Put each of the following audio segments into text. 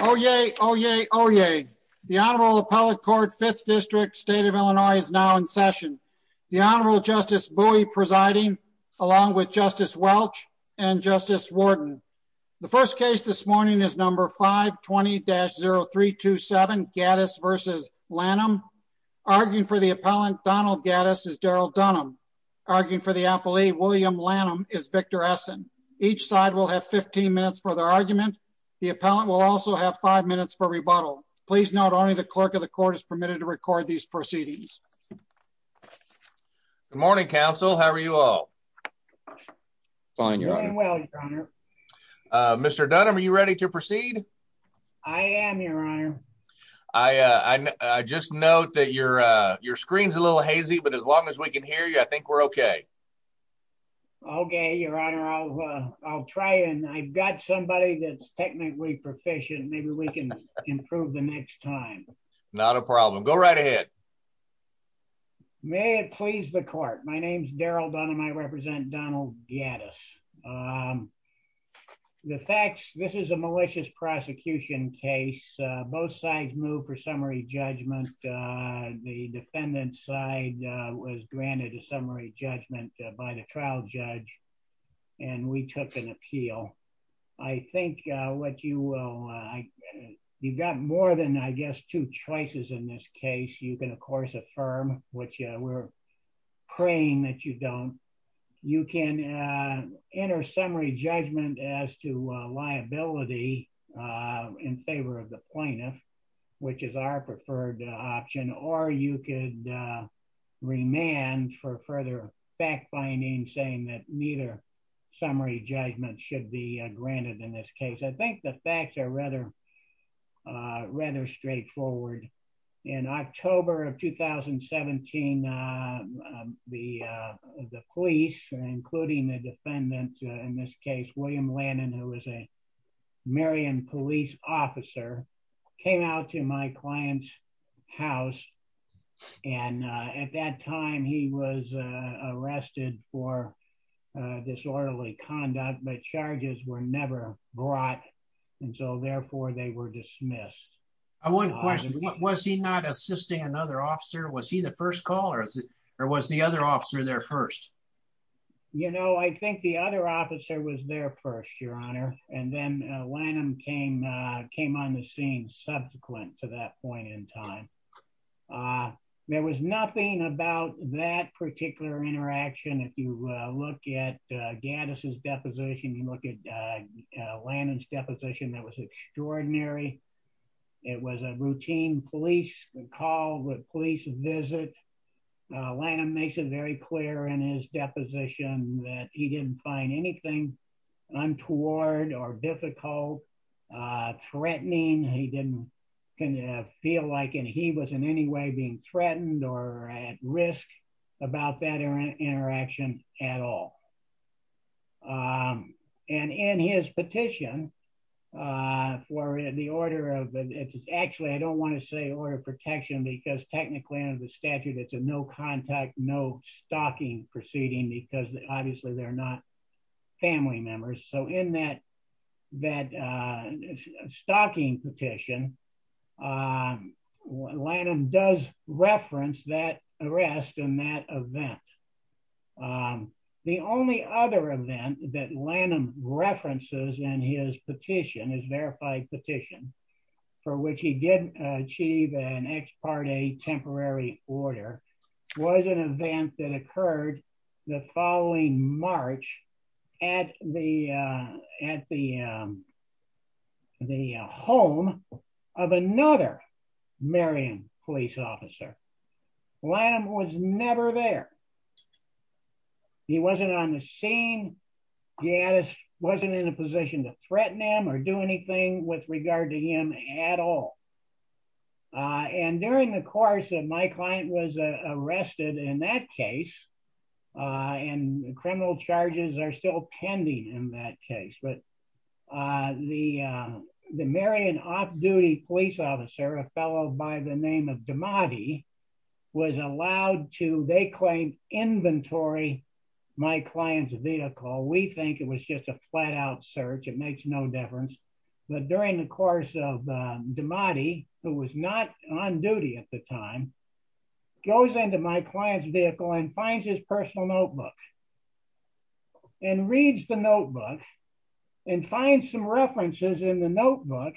Oh, yeah. Oh, yeah. Oh, yeah. The Honorable Appellate Court Fifth District State of Illinois is now in session. The Honorable Justice Bowie presiding along with Justice Welch and Justice Warden. The first case this morning is number 5 20-0327 Gaddis versus Lannom. Arguing for the appellant, Donald Gaddis, is Daryl Dunham. Arguing for the appellee, William Lannom, is Victor Rassen. Each side will have 15 minutes for their argument. The appellant will also have five minutes for rebuttal. Please note only the clerk of the court is permitted to record these proceedings. Good morning, counsel. How are you all? Fine, Your Honor. Mr. Dunham, are you ready to proceed? I am, Your Honor. I just note that your screen's a little hazy, but as long as we can hear you, I think we're okay. Okay, Your Honor. I'll try and I've got somebody that's technically proficient. Maybe we can improve the next time. Not a problem. Go right ahead. May it please the court. My name's Daryl Dunham. I represent Donald Gaddis. The facts, this is a malicious prosecution case. Both sides move for summary judgment by the trial judge, and we took an appeal. I think what you will, you've got more than, I guess, two choices in this case. You can, of course, affirm, which we're praying that you don't. You can enter summary judgment as to liability in favor of the plaintiff, which is our preferred option, or you could remand for further fact-finding, saying that neither summary judgment should be granted in this case. I think the facts are rather rather straightforward. In October of 2017, the police, including the defendant, in this case, William Lannan, who was a Marion police officer, came out to my client's house. And at that time, he was arrested for disorderly conduct, but charges were never brought. And so therefore, they were dismissed. I want to question, was he not assisting another officer? Was he the first caller? Or was the other officer there first? You know, I think the other officer was there first, Your Honor. And then Lannan came on the scene subsequent to that point in time. There was nothing about that particular interaction. If you look at Gaddis' deposition, you look at Lannan's deposition, that was extraordinary. It was a routine police call, police visit. Lannan makes it very clear in his deposition that he didn't find anything untoward or difficult, threatening, he didn't feel like he was in any way being threatened or at risk about that interaction at all. And in his petition, for the order of, actually, I don't want to say order of protection, because technically under the statute, it's a no contact, no family members. So in that stocking petition, Lannan does reference that arrest in that event. The only other event that Lannan references in his petition, his verified petition, for which he didn't achieve an ex parte temporary order, was an event that occurred the following March at the, at the, the home of another Marion police officer. Lannan was never there. He wasn't on the scene. Gaddis wasn't in a position to threaten him or do anything with regard to him at all. And during the course of my client was arrested in that case, and criminal charges are still pending in that case, but the, the Marion off duty police officer, a fellow by the name of Damadi, was allowed to, they claimed inventory, my client's vehicle, we think it was just a flat out search, it makes no difference. But during the course of Damadi, who was not on duty at the time, goes into my client's vehicle and finds his personal notebook, and reads the notebook, and find some references in the notebook,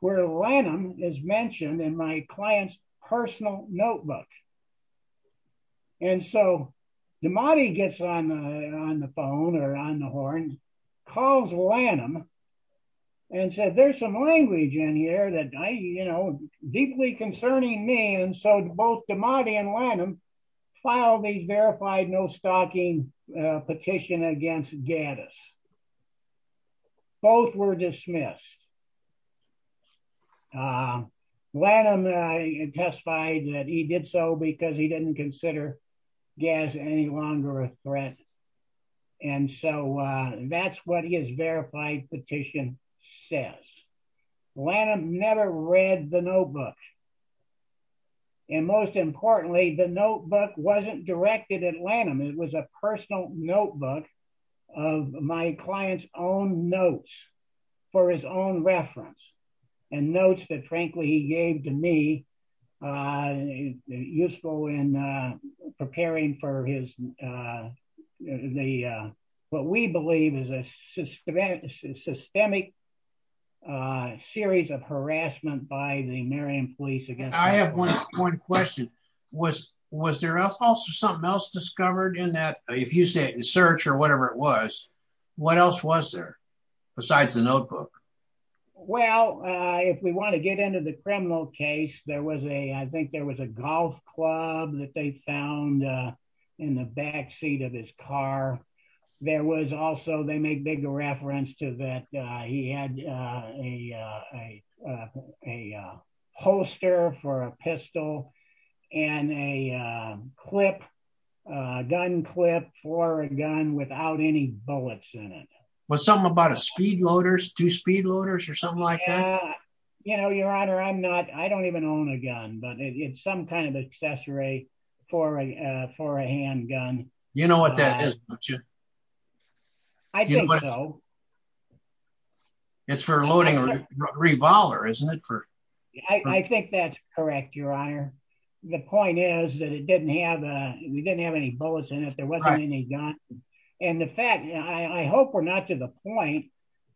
where Lannan is mentioned in my client's personal notebook. And so Damadi gets on on the phone or on the horn, calls Lannan, and said, there's some language in here that I, you know, deeply concerning me. And so both Damadi and Lannan filed a verified no stalking petition against Gaddis. Both were dismissed. Lannan testified that he did so because he didn't consider Gaddis any longer a threat. And so that's what he has verified petition says. Lannan never read the notebook. And most importantly, the notebook wasn't directed at Lannan, it was a personal notebook of my client's own notes, for his own reference, and for his own safety. Useful in preparing for his, the, what we believe is a systemic, systemic series of harassment by the Meriam police against him. I have one question. Was, was there also something else discovered in that, if you say it in search or whatever it was, what else was there? Besides the criminal case, there was a, I think there was a golf club that they found in the backseat of his car. There was also, they make big reference to that. He had a, a, a holster for a pistol and a clip, a gun clip for a gun without any bullets in it. Was something about a speed loaders, two speed loaders or something like that? You know, Your Honor, I'm not, I don't even own a gun, but it's some kind of accessory for a, for a handgun. You know what that is, don't you? I think so. It's for loading a revolver, isn't it? I think that's correct, Your Honor. The point is that it didn't have a, we didn't have any bullets in it. There wasn't any gun. And the fact, I hope we're not to the point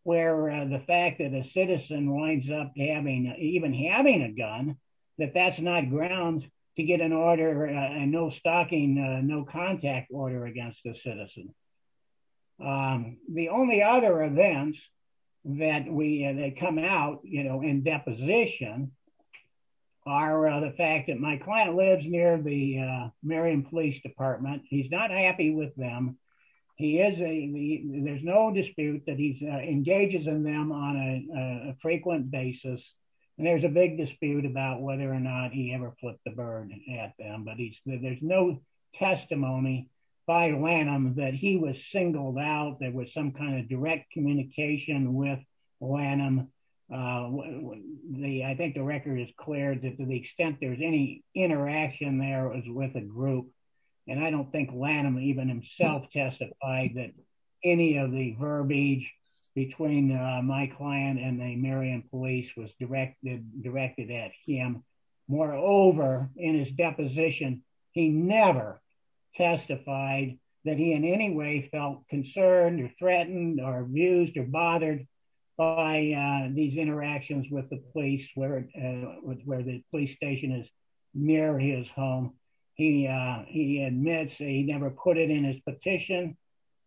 where the fact that a citizen winds up having, even having a gun, that that's not grounds to get an order and no stalking, no contact order against the citizen. The only other events that we, they come out, you know, in deposition are the fact that my client lives near the Marion Police Department. He's not happy with them. He is a, there's no dispute that he engages in them on a frequent basis. And there's a big dispute about whether or not he ever flipped the bird at them. But he's, there's no testimony by Lanham that he was singled out. There was some kind of direct communication with Lanham. The, I think the record is clear that to the extent there's any interaction there is with a group. And I don't think Lanham even himself testified that any of the verbiage between my client and the Marion police was directed, directed at him. Moreover, in his deposition, he never testified that he in any way felt concerned or threatened or abused or bothered by these interactions with the he, he admits he never put it in his petition.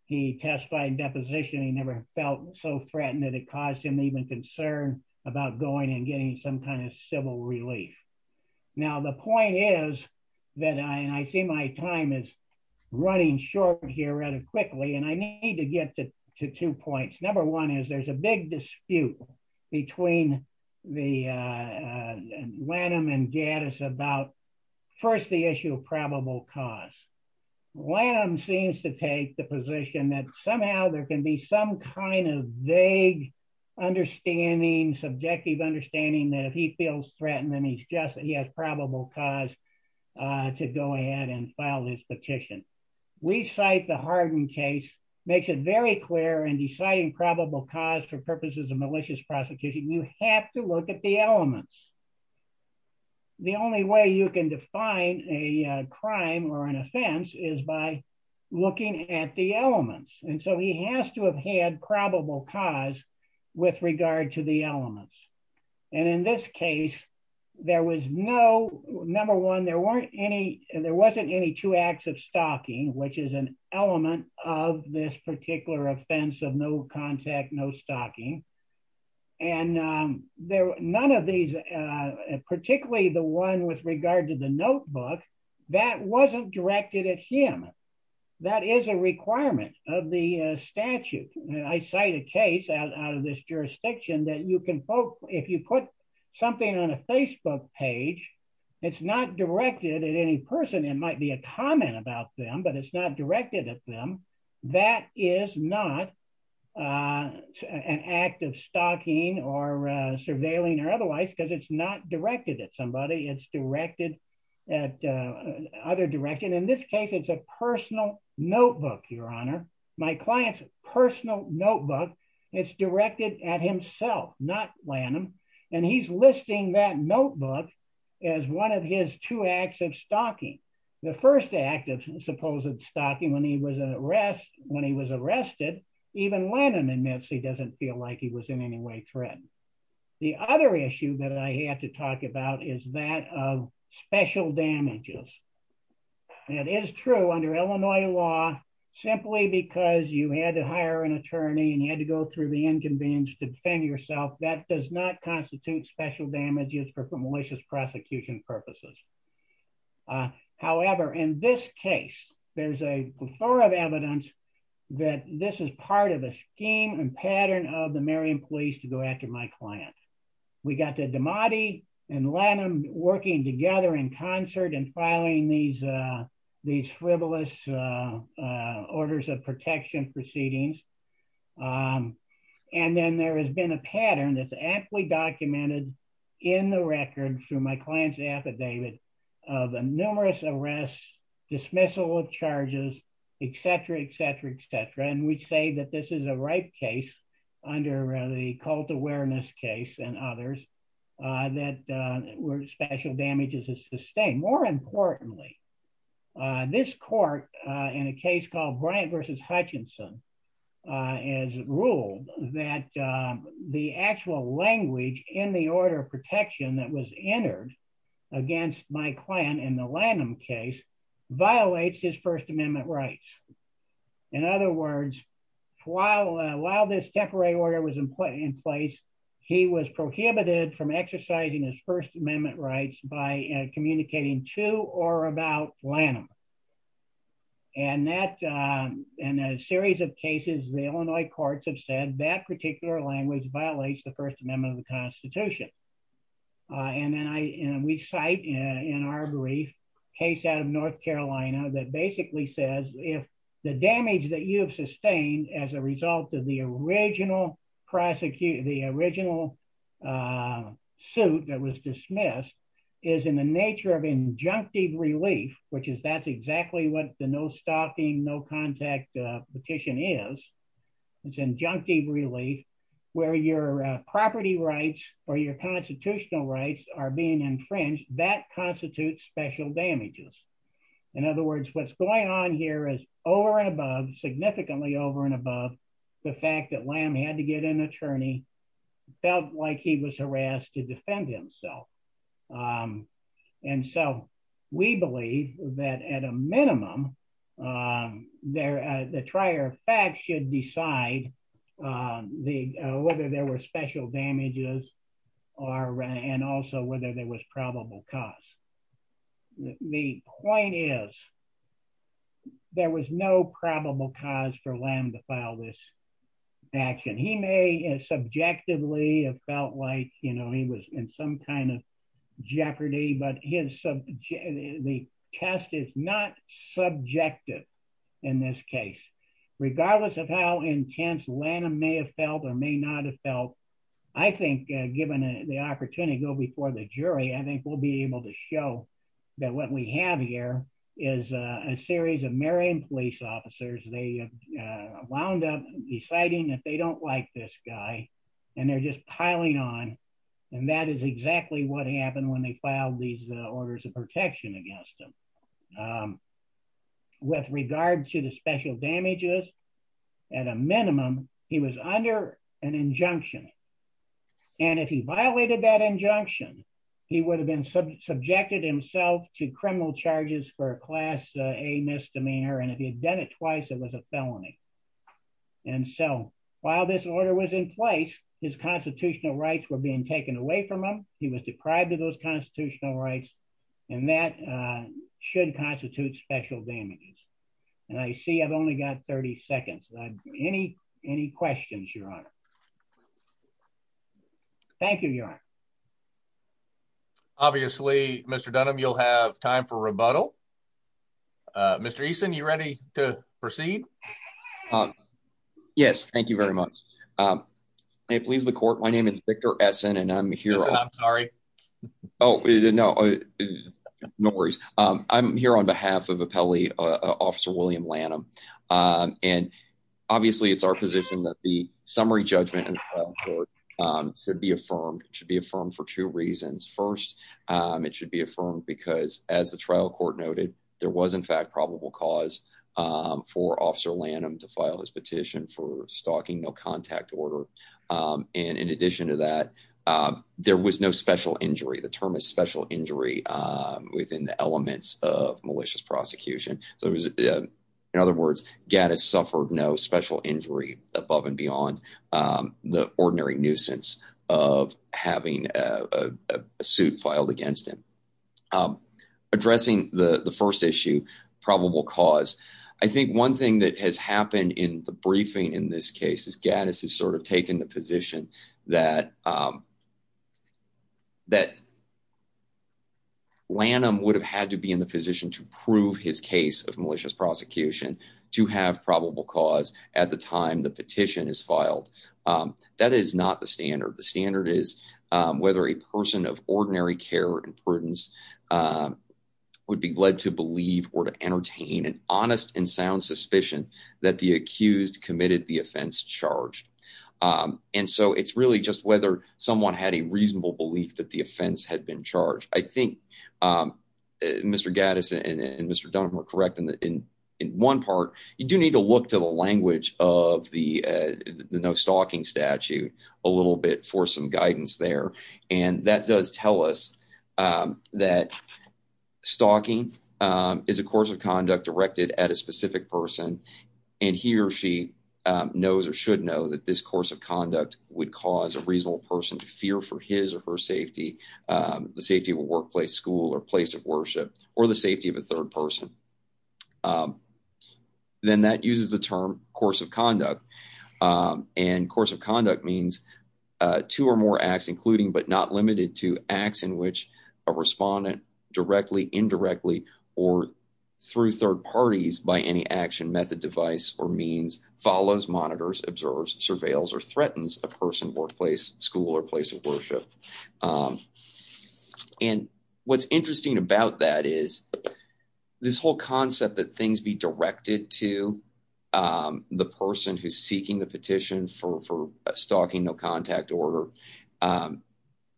He testified in deposition, he never felt so threatened that it caused him even concern about going and getting some kind of civil relief. Now, the point is that I see my time is running short here rather quickly. And I need to get to two points. Number one is there's a big dispute between the Lanham and Gaddis about first the issue of probable cause. Lanham seems to take the position that somehow there can be some kind of vague understanding subjective understanding that if he feels threatened, then he's just he has probable cause to go ahead and file this petition. We cite the malicious prosecution, you have to look at the elements. The only way you can define a crime or an offense is by looking at the elements. And so he has to have had probable cause with regard to the elements. And in this case, there was no number one, there weren't any, there wasn't any two acts of stalking, which is an element of this particular offense of no contact, no stalking. And there were none of these, particularly the one with regard to the notebook, that wasn't directed at him. That is a requirement of the statute. I cite a case out of this jurisdiction that you can vote if you put something on a Facebook page, it's not directed at any person, it might be a comment about them, but it's not directed at them. That is not an act of stalking or surveilling or otherwise, because it's not directed at somebody, it's directed at other direction. In this case, it's a personal notebook, Your Honor, my client's personal notebook, it's directed at two acts of stalking. The first act of supposed stalking when he was an arrest, when he was arrested, even when an amnesty doesn't feel like he was in any way threatened. The other issue that I have to talk about is that of special damages. And it is true under Illinois law, simply because you had to hire an attorney and you had to go through the inconvenience to defend yourself that does not constitute special damages for malicious prosecution purposes. However, in this case, there's a plethora of evidence that this is part of a scheme and pattern of the Marion police to go after my client. We got the Damati and Lanham working together in concert and filing these these frivolous orders of arrest. And this is a pattern that's aptly documented in the record through my client's affidavit of numerous arrests, dismissal of charges, etc, etc, etc. And we say that this is a right case, under the cult awareness case and others, that were special damages to sustain. More importantly, this court in a case called Bryant versus Hutchinson, has ruled that the actual language in the order of protection that was entered against my client in the Lanham case violates his First Amendment rights. In other words, while while this temporary order was in place, he was prohibited from exercising his First Amendment rights by communicating to or about Lanham. And that in a series of cases, the Illinois courts have said that particular language violates the First Amendment of the Constitution. And then I we cite in our brief case out of North Carolina that basically says if the damage that you have sustained as a is in the nature of injunctive relief, which is that's exactly what the no stalking no contact petition is. It's injunctive relief, where your property rights or your constitutional rights are being infringed that constitutes special damages. In other words, what's going on here is over and above significantly over and above the fact that Lanham had to get an attorney felt like he was and so we believe that at a minimum, there, the trier fact should decide the whether there were special damages are and also whether there was probable cause. The point is, there was no probable cause for Lanham to file this action, he may subjectively have felt like, you know, he was in some kind of jeopardy, but his the test is not subjective. In this case, regardless of how intense Lanham may have felt or may not have felt, I think, given the opportunity to go before the jury, I think we'll be able to show that what we have here is a series of Marion police officers, they wound up deciding that they don't like this guy. And they're just piling on. And that is exactly what happened when they filed these orders of protection against him. With regard to the special damages, at a minimum, he was under an injunction. And if he violated that injunction, he would have been subject subjected himself to criminal charges for a class A misdemeanor. And if he had done it twice, it was a felony. And so while this order was in place, his constitutional rights were being taken away from him. He was deprived of those constitutional rights, and that should constitute special damages. And I see I've only got 30 seconds. Any any questions, Your Honor? Thank you, Your Honor. Obviously, Mr Dunham, you'll have time for rebuttal. Uh, Mr Eason, you ready to proceed? Um, yes, thank you very much. Um, please, the court. My name is Victor Essin, and I'm here. I'm sorry. Oh, no. No worries. I'm here on behalf of a Pele officer, William Lanham. Um, and obviously, it's our position that the summary judgment should be affirmed should be affirmed for two reasons. First, it should be affirmed because, as the trial court noted, there was, in fact, probable cause, um, for Officer Lanham to file his petition for stalking no contact order. Um, and in addition to that, um, there was no special injury. The term is special injury, um, within the elements of malicious prosecution. So it was, in other words, Gaddis suffered no special injury above and beyond, um, the ordinary nuisance of having a suit filed against him. Um, addressing the happened in the briefing. In this case, is Gaddis has sort of taken the position that, um, that Lanham would have had to be in the position to prove his case of malicious prosecution to have probable cause at the time the petition is filed. Um, that is not the standard. The standard is whether a person of ordinary care and prudence, uh, would be led to believe or to entertain an honest and that the accused committed the offense charged. Um, and so it's really just whether someone had a reasonable belief that the offense had been charged. I think, um, Mr Gaddis and Mr Dunham are correct. And in one part, you do need to look to the language of the no stalking statute a little bit for some guidance there. And that does tell us, um, that stalking is a course of and he or she knows or should know that this course of conduct would cause a reasonable person to fear for his or her safety. The safety of a workplace school or place of worship or the safety of a third person. Um, then that uses the term course of conduct. Um, and course of conduct means two or more acts, including but not limited to acts in which a respondent directly indirectly or through third parties by any action method, device or means follows, monitors, observes, surveils or threatens a person, workplace, school or place of worship. Um, and what's interesting about that is this whole concept that things be directed to, um, the person who's seeking the petition for for stalking no contact order. Um,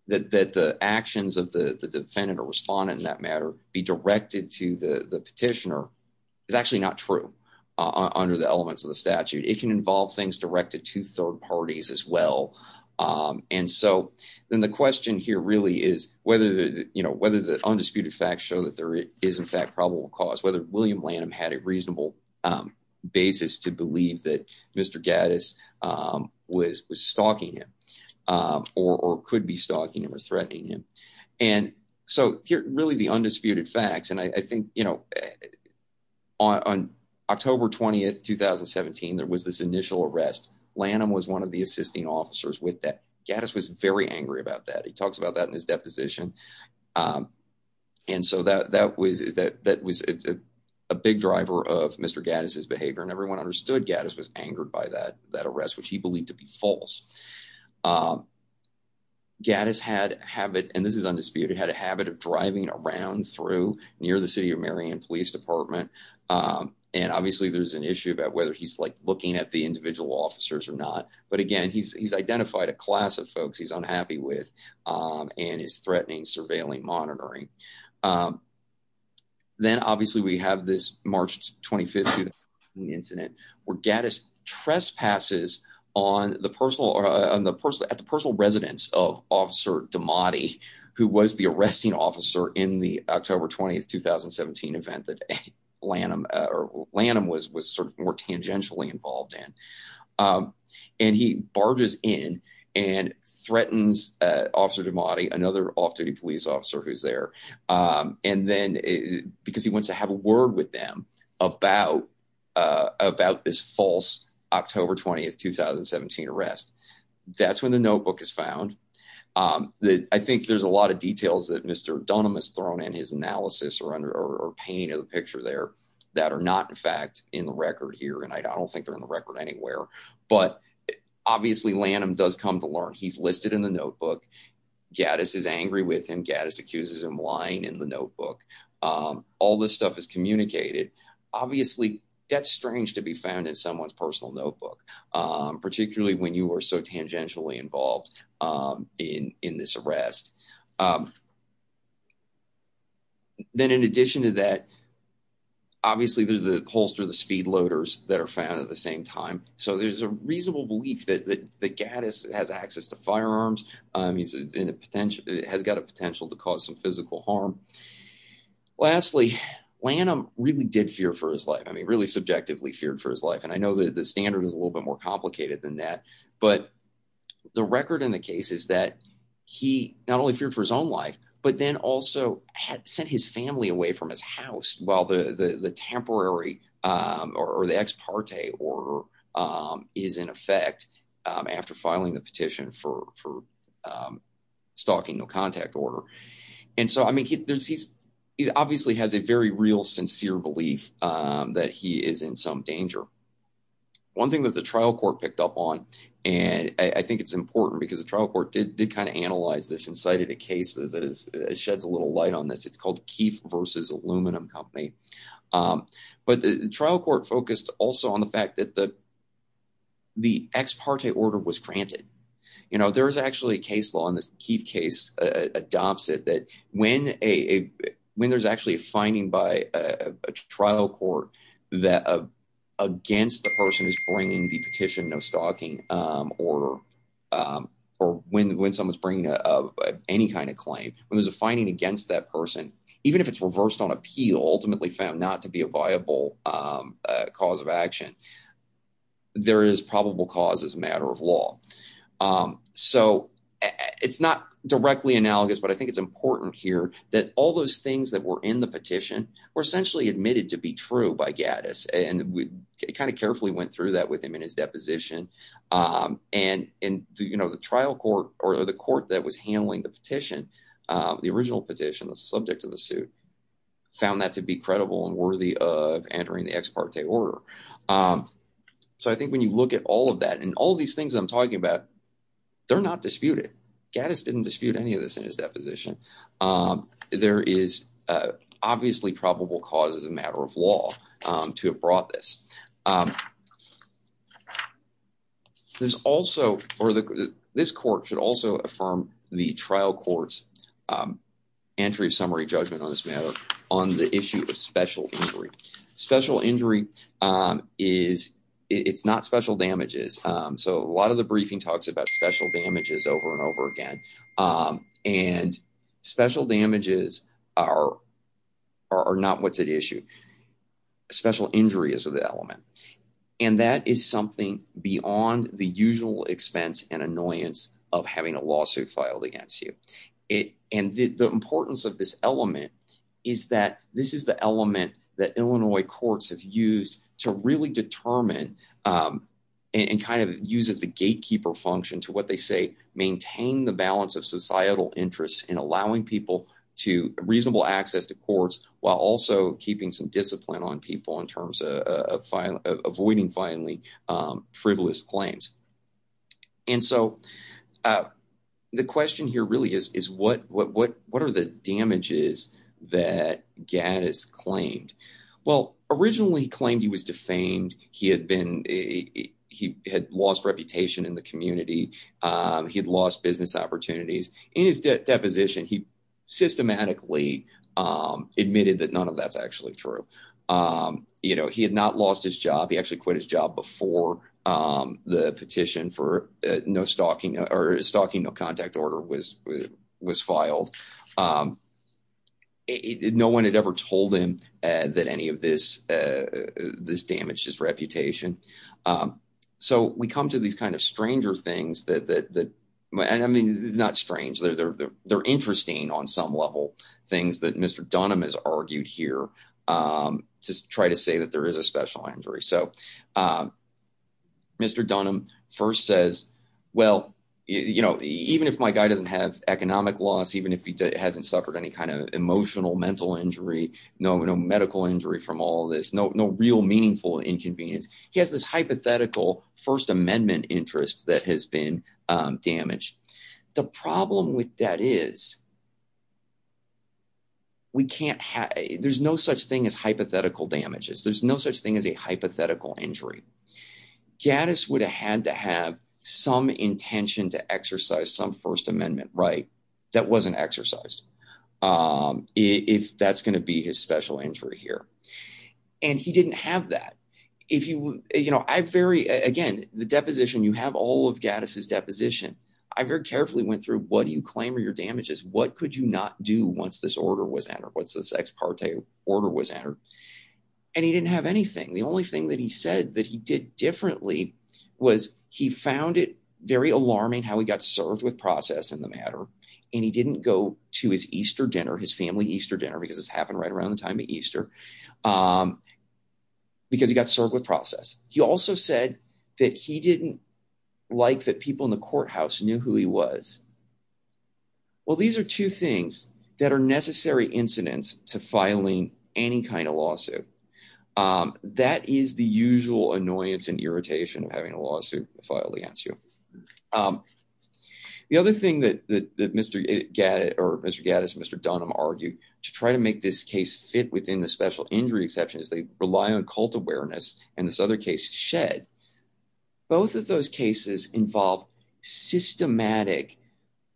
that that the actions of the defendant or respondent in that matter be directed to the petitioner is actually not true under the elements of the statute. It can involve things directed to third parties as well. Um, and so then the question here really is whether, you know, whether the undisputed facts show that there is, in fact, probable cause whether William Lanham had a reasonable, um, basis to believe that Mr Gattis, um, was was stalking him, um, or could be stalking or threatening him. And so really the undisputed facts. And I think, you know, on October 20th, 2017, there was this initial arrest. Lanham was one of the assisting officers with that. Gattis was very angry about that. He talks about that in his deposition. Um, and so that that was that that was a big driver of Mr Gattis behavior, and everyone understood Gattis was angered by that that arrest, which he believed to be false. Um, Gattis had habit, and this is undisputed, had a habit of driving around through near the city of Marion Police Department. Um, and obviously there's an issue about whether he's like looking at the individual officers or not. But again, he's identified a class of folks he's unhappy with, um, and is threatening surveilling monitoring. Um, then, obviously, we have this March 25th incident where Gattis trespasses on the personal on the personal at the personal residence of Officer DiMatti, who was the arresting officer in the October 20th, 2017 event that Lanham or Lanham was was sort of more tangentially involved in. Um, and he barges in and threatens Officer DiMatti, another off duty police officer who's there. Um, and then because he wants to have a word with them about about this false October 20th, 2017 arrest, that's when the notebook is found. Um, I think there's a lot of details that Mr Dunham has thrown in his analysis or under or painting of the picture there that are not in fact in the record here, and I don't think they're in the record anywhere. But obviously, Lanham does come to learn. He's listed in the notebook. Gattis is angry with him. Gattis accuses him lying in the notebook. Um, all this stuff is communicated. Obviously, that's strange to be found in someone's personal notebook, particularly when you were so tangentially involved, um, in in this arrest. Um, then, in addition to that, obviously, there's the holster, the speed loaders that are found at the same time. So there's a reasonable belief that the Gattis has access to firearms. Um, he's in a potential has got a potential to cause some physical harm. Lastly, Lanham really did fear for his life. I mean, really subjectively feared for his life. And I know that the standard is a little bit more complicated than that. But the record in the case is that he not only feared for his own life, but then also had sent his family away from his house while the temporary, um, or the ex parte or, um, is in effect after filing the petition for, um, stalking no contact order. And so I mean, there's he's obviously has a very real, sincere belief that he is in some danger. One thing that the trial court picked up on, and I think it's important because the trial court did did kind of analyze this and cited a case that is sheds a little light on this. It's called Keefe versus Aluminum Company. Um, but the trial court focused also on the fact that the the ex parte order was granted. You know, there is actually a case law in this case adopts it that when a when there's actually a finding by a trial court that against the person is bringing the petition, no stalking or or when when someone's bringing any kind of claim when there's a finding against that person, even if it's reversed on appeal, ultimately found not to be a viable, um, cause of action. There is probable cause is a matter of law. Um, so it's not directly analogous, but I think it's important here that all those things that were in the petition were essentially admitted to be true by Gattis. And we kind of carefully went through that with him in his deposition. Um, and and, you know, the trial court or the court that was handling the petition, um, the original petition, the subject of the suit found that to be credible and worthy of entering the ex parte order. Um, so I think when you look at all of that and all these things I'm talking about, they're not disputed. Gattis didn't dispute any of this in his deposition. Um, there is obviously probable cause is a matter of law, um, to have brought this. Um, there's also or this court should also affirm the trial courts, um, entry summary judgment on this matter. On the issue of special injury, special injury, um, is it's not special damages. Um, so a lot of the briefing talks about special damages over and over again. Um, and special damages are are not what's at issue. Special injury is of the element, and that is something beyond the usual expense and annoyance of having a lawsuit filed against you. It and the importance of this element is that this is the element that Illinois courts have used to really determine, um, and kind of uses the gatekeeper function to what they say. Maintain the balance of societal interests in allowing people to reasonable access to courts while also keeping some discipline on people in terms of avoiding finally, um, frivolous claims. And so, uh, the question here really is, is what? What? What? What are the damages that Gaddis claimed? Well, originally claimed he was defamed. He had been. He had lost reputation in the community. Um, he had lost business opportunities in his deposition. He systematically, um, admitted that none of that's actually true. Um, you know, he had not lost his job before, um, the petition for no stalking or stalking. No contact order was was filed. Um, no one had ever told him that any of this, uh, this damaged his reputation. Um, so we come to these kind of stranger things that that that I mean, it's not strange. They're they're interesting on some level things that Mr Dunham has argued here, um, to try to say that there is a special injury. So, uh, Mr Dunham first says, well, you know, even if my guy doesn't have economic loss, even if he hasn't suffered any kind of emotional mental injury, no, no medical injury from all this, no, no real meaningful inconvenience. He has this hypothetical First Amendment interest that has been damaged. The problem with that is we can't. There's no such thing as hypothetical damages. There's no such thing as a hypothetical injury. Gaddis would have had to have some intention to exercise some First Amendment right that wasn't exercised. Um, if that's gonna be his special injury here, and he didn't have that. If you, you know, I very again the deposition you have all of Gaddis is deposition. I very carefully went through. What do you claim your damages? What could you not do once this order was entered? What's this ex parte order was entered? And he didn't have anything. The only thing that he said that he did differently was he found it very alarming how we got served with process in the matter, and he didn't go to his Easter dinner, his family Easter dinner because it's happened right around the time of Easter. Um, because he got served with process. He also said that he didn't like that people in the courthouse knew who he was. Well, these are two things that are necessary incidents to filing any kind of lawsuit. Um, that is the usual annoyance and irritation of having a lawsuit filed against you. Um, the other thing that Mr Gaddis or Mr Gaddis, Mr Dunham argued to try to make this case fit within the special injury exceptions, they rely on cult awareness and this other case shed. Both of those cases involve systematic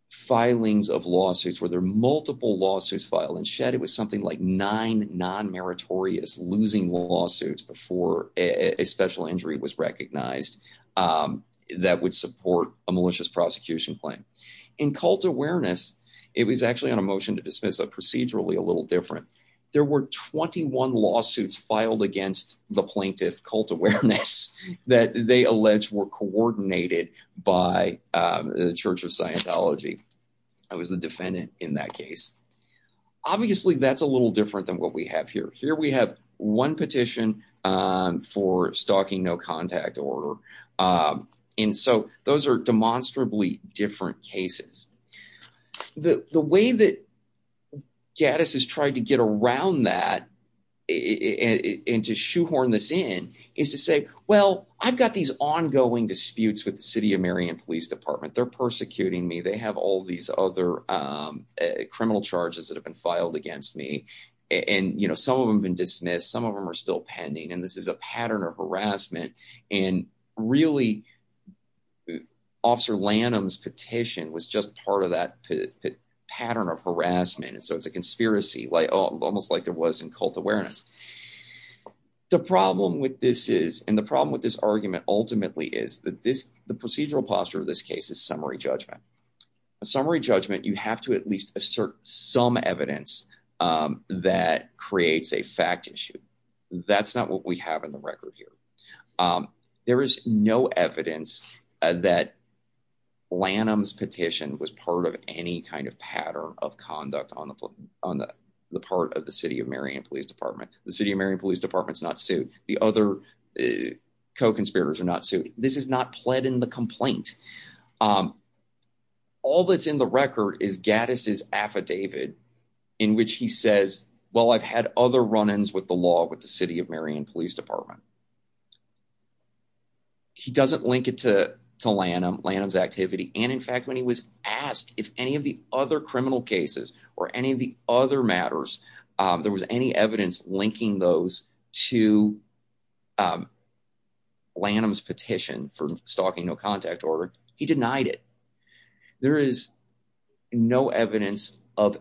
filings of lawsuits where there are multiple lawsuits filed and shed. It was something like nine non meritorious losing lawsuits before a special injury was recognized. Um, that would support a malicious prosecution claim in cult awareness. It was actually on a motion to dismiss a procedurally a little different. There were 21 lawsuits filed against the plaintiff cult awareness that they alleged were coordinated by the Church of Scientology. I was the defendant in that case. Obviously, that's a little different than what we have here. Here we have one petition for stalking no contact order. Um, and so those are demonstrably different cases. The way that Gaddis has tried to get around that and to shoehorn this in is to say, well, I've got these ongoing disputes with the city of Marion police department. They're persecuting me. They have all these other, um, criminal charges that have been filed against me. And, you know, some of them been dismissed. Some of them are still pending, and this is a pattern of harassment. And really, Officer Lanham's petition was just part of that pattern of harassment. And so it's a conspiracy, like almost like there was in cult awareness. The problem with this is and the problem with this argument ultimately is that the procedural posture of this case is summary judgment. A summary judgment. You have to at least assert some evidence, um, that creates a fact issue. That's not what we have in the record here. Um, there is no evidence that Lanham's petition was part of any kind of pattern of conduct on the on the part of the city of Marion Police Department. The city of Marion Police Department is not sued. The other co conspirators are not sued. This is not pled in the complaint. Um, all that's in the record is Gaddis is affidavit in which he says, well, I've had other run ins with the law with the city of Marion Police Department. He doesn't link it toe to Lanham Lanham's activity. And in fact, when he was asked if any of the other criminal cases or any of the other matters there was any evidence linking those to, um, Lanham's petition for stalking. No contact order. He denied it. There is no evidence of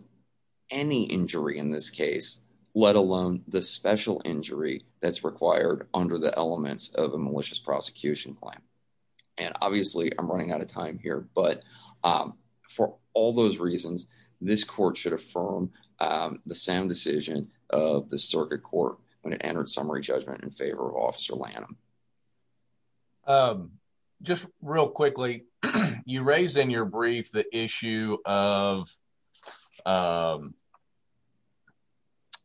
any injury in this case, let alone the special injury that's required under the elements of a malicious prosecution plan. And obviously I'm running out of time here. But, um, for all those reasons, this court should affirm, um, the sound decision of the circuit court when it entered summary judgment in favor of Officer Lanham. Um, just real quickly, you raise in your brief the issue of, um,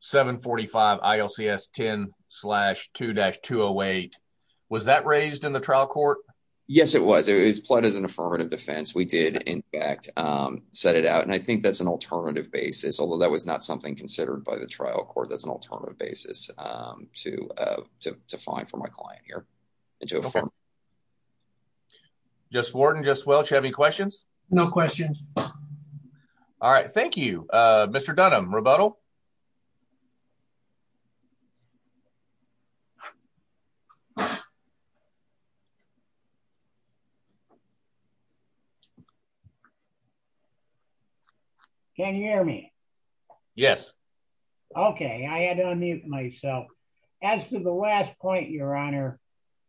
7 45 I. L. C. S. 10 slash 2-208. Was that raised in the trial court? Yes, it was. It was played as an affirmative defense. We did, in fact, um, set it out. And I think that's an alternative basis, although that was not something considered by the trial court. That's an alternative basis, um, to, uh, to find for my client here into a firm just warden. Just Welch. Have any questions? No questions. All right. Thank you, Mr Dunham. Rebuttal. Yeah. Yeah. Can you hear me? Yes. Okay. I had to unmute myself. As to the last point, Your Honor,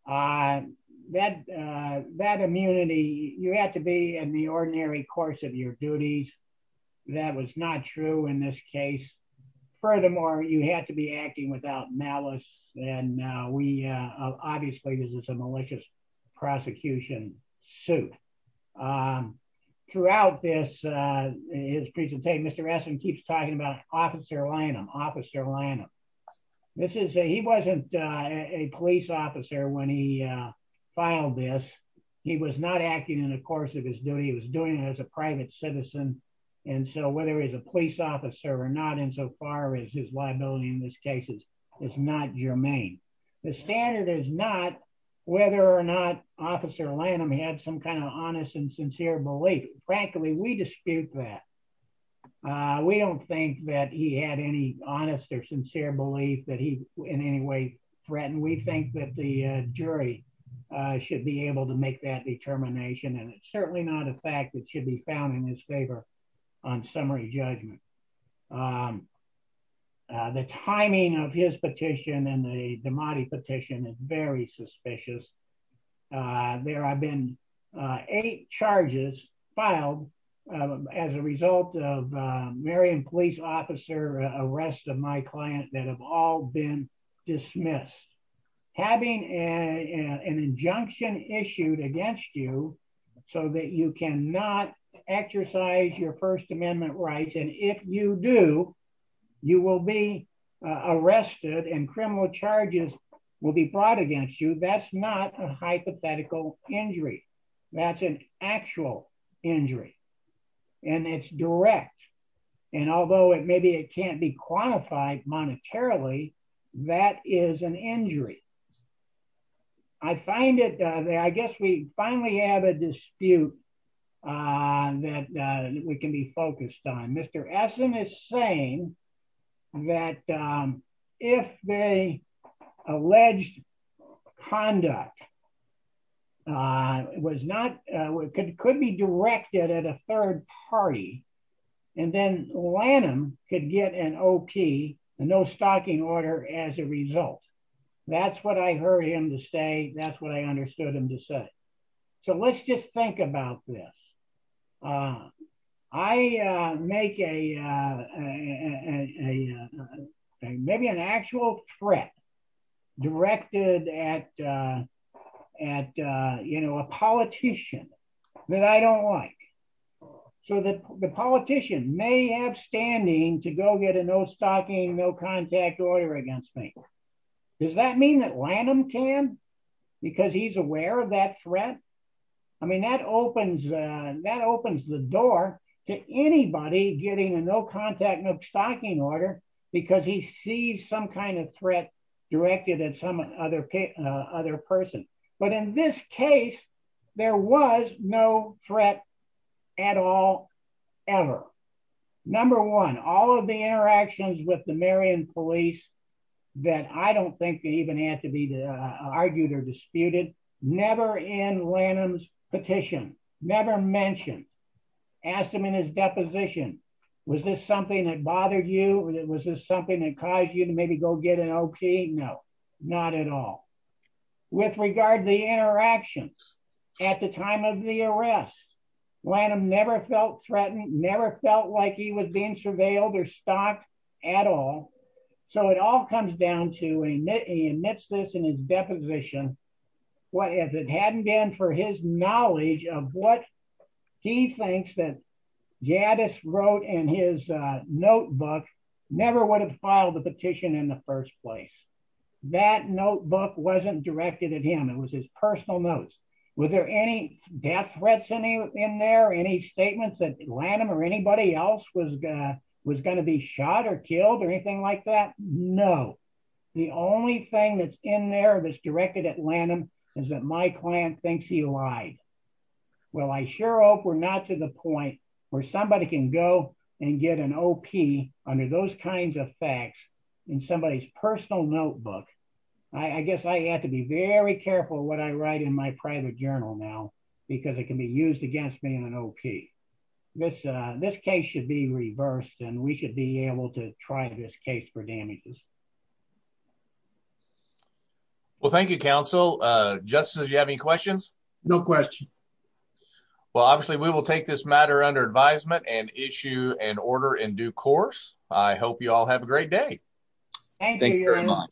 I bet that immunity you had to be in the ordinary course of your duties. That was not true in this case. Furthermore, you had to be acting without malice. And we obviously this is a malicious prosecution suit. Um, throughout this, uh, his presentation, Mr Essam keeps talking about Officer Lanham, Officer Lanham. This is a he wasn't a police officer when he filed this. He was not acting in the course of his duty. He was doing it as a private citizen. And so whether he's a police officer or not, insofar as his is not germane, the standard is not whether or not Officer Lanham had some kind of honest and sincere belief. Frankly, we dispute that. We don't think that he had any honest or sincere belief that he in any way threatened. We think that the jury should be able to make that determination, and it's certainly not a fact that should be found in his favor on summary judgment. Um, the timing of his petition and the Demati petition is very suspicious. There have been eight charges filed as a result of Marian police officer arrest of my client that have all been dismissed, having a an injunction issued against you so that you cannot exercise your First Amendment rights. And if you do, you will be arrested and criminal charges will be brought against you. That's not a hypothetical injury. That's an actual injury, and it's direct. And although it maybe it can't be quantified monetarily, that is an injury. I find it. I guess we finally have a dispute that we can be focused on. Mr Essam is saying that if they alleged conduct was not could be directed at a third party, and then Lanham could get an no stocking order. As a result, that's what I heard him to stay. That's what I understood him to say. So let's just think about this. Uh, I make a, uh, maybe an actual threat directed at at, you know, a politician that I don't like so that the politician may have standing to go get a no stocking, no contact order against me. Does that mean that Lanham can because he's aware of that threat? I mean, that opens that opens the door to anybody getting a no contact, no stocking order because he sees some kind of threat directed at some other other person. But in this case, there was no threat at all, ever. Number one, all of the interactions with the Marion police that I don't think even had to be argued or disputed. Never in Lanham's petition, never mentioned, asked him in his deposition. Was this something that bothered you? Was this something that caused you to maybe go get an OK? No, not at all. With regard to the interactions at the time of the arrest, Lanham never felt threatened, never felt like he was being surveilled or stocked at all. So it all comes down to and he admits this in his deposition. What if it hadn't been for his knowledge of what he thinks that would file the petition in the first place? That notebook wasn't directed at him. It was his personal notes. Were there any death threats in there? Any statements that Lanham or anybody else was was going to be shot or killed or anything like that? No. The only thing that's in there that's directed at Lanham is that my client thinks he lied. Well, I sure hope we're not to the facts in somebody's personal notebook. I guess I had to be very careful what I write in my private journal now because it can be used against me in an OK. This this case should be reversed and we should be able to try this case for damages. Well, thank you, counsel. Justice, you have any questions? No question. Well, obviously, we will take this matter under advisement and issue an have a great day. Thank you very much.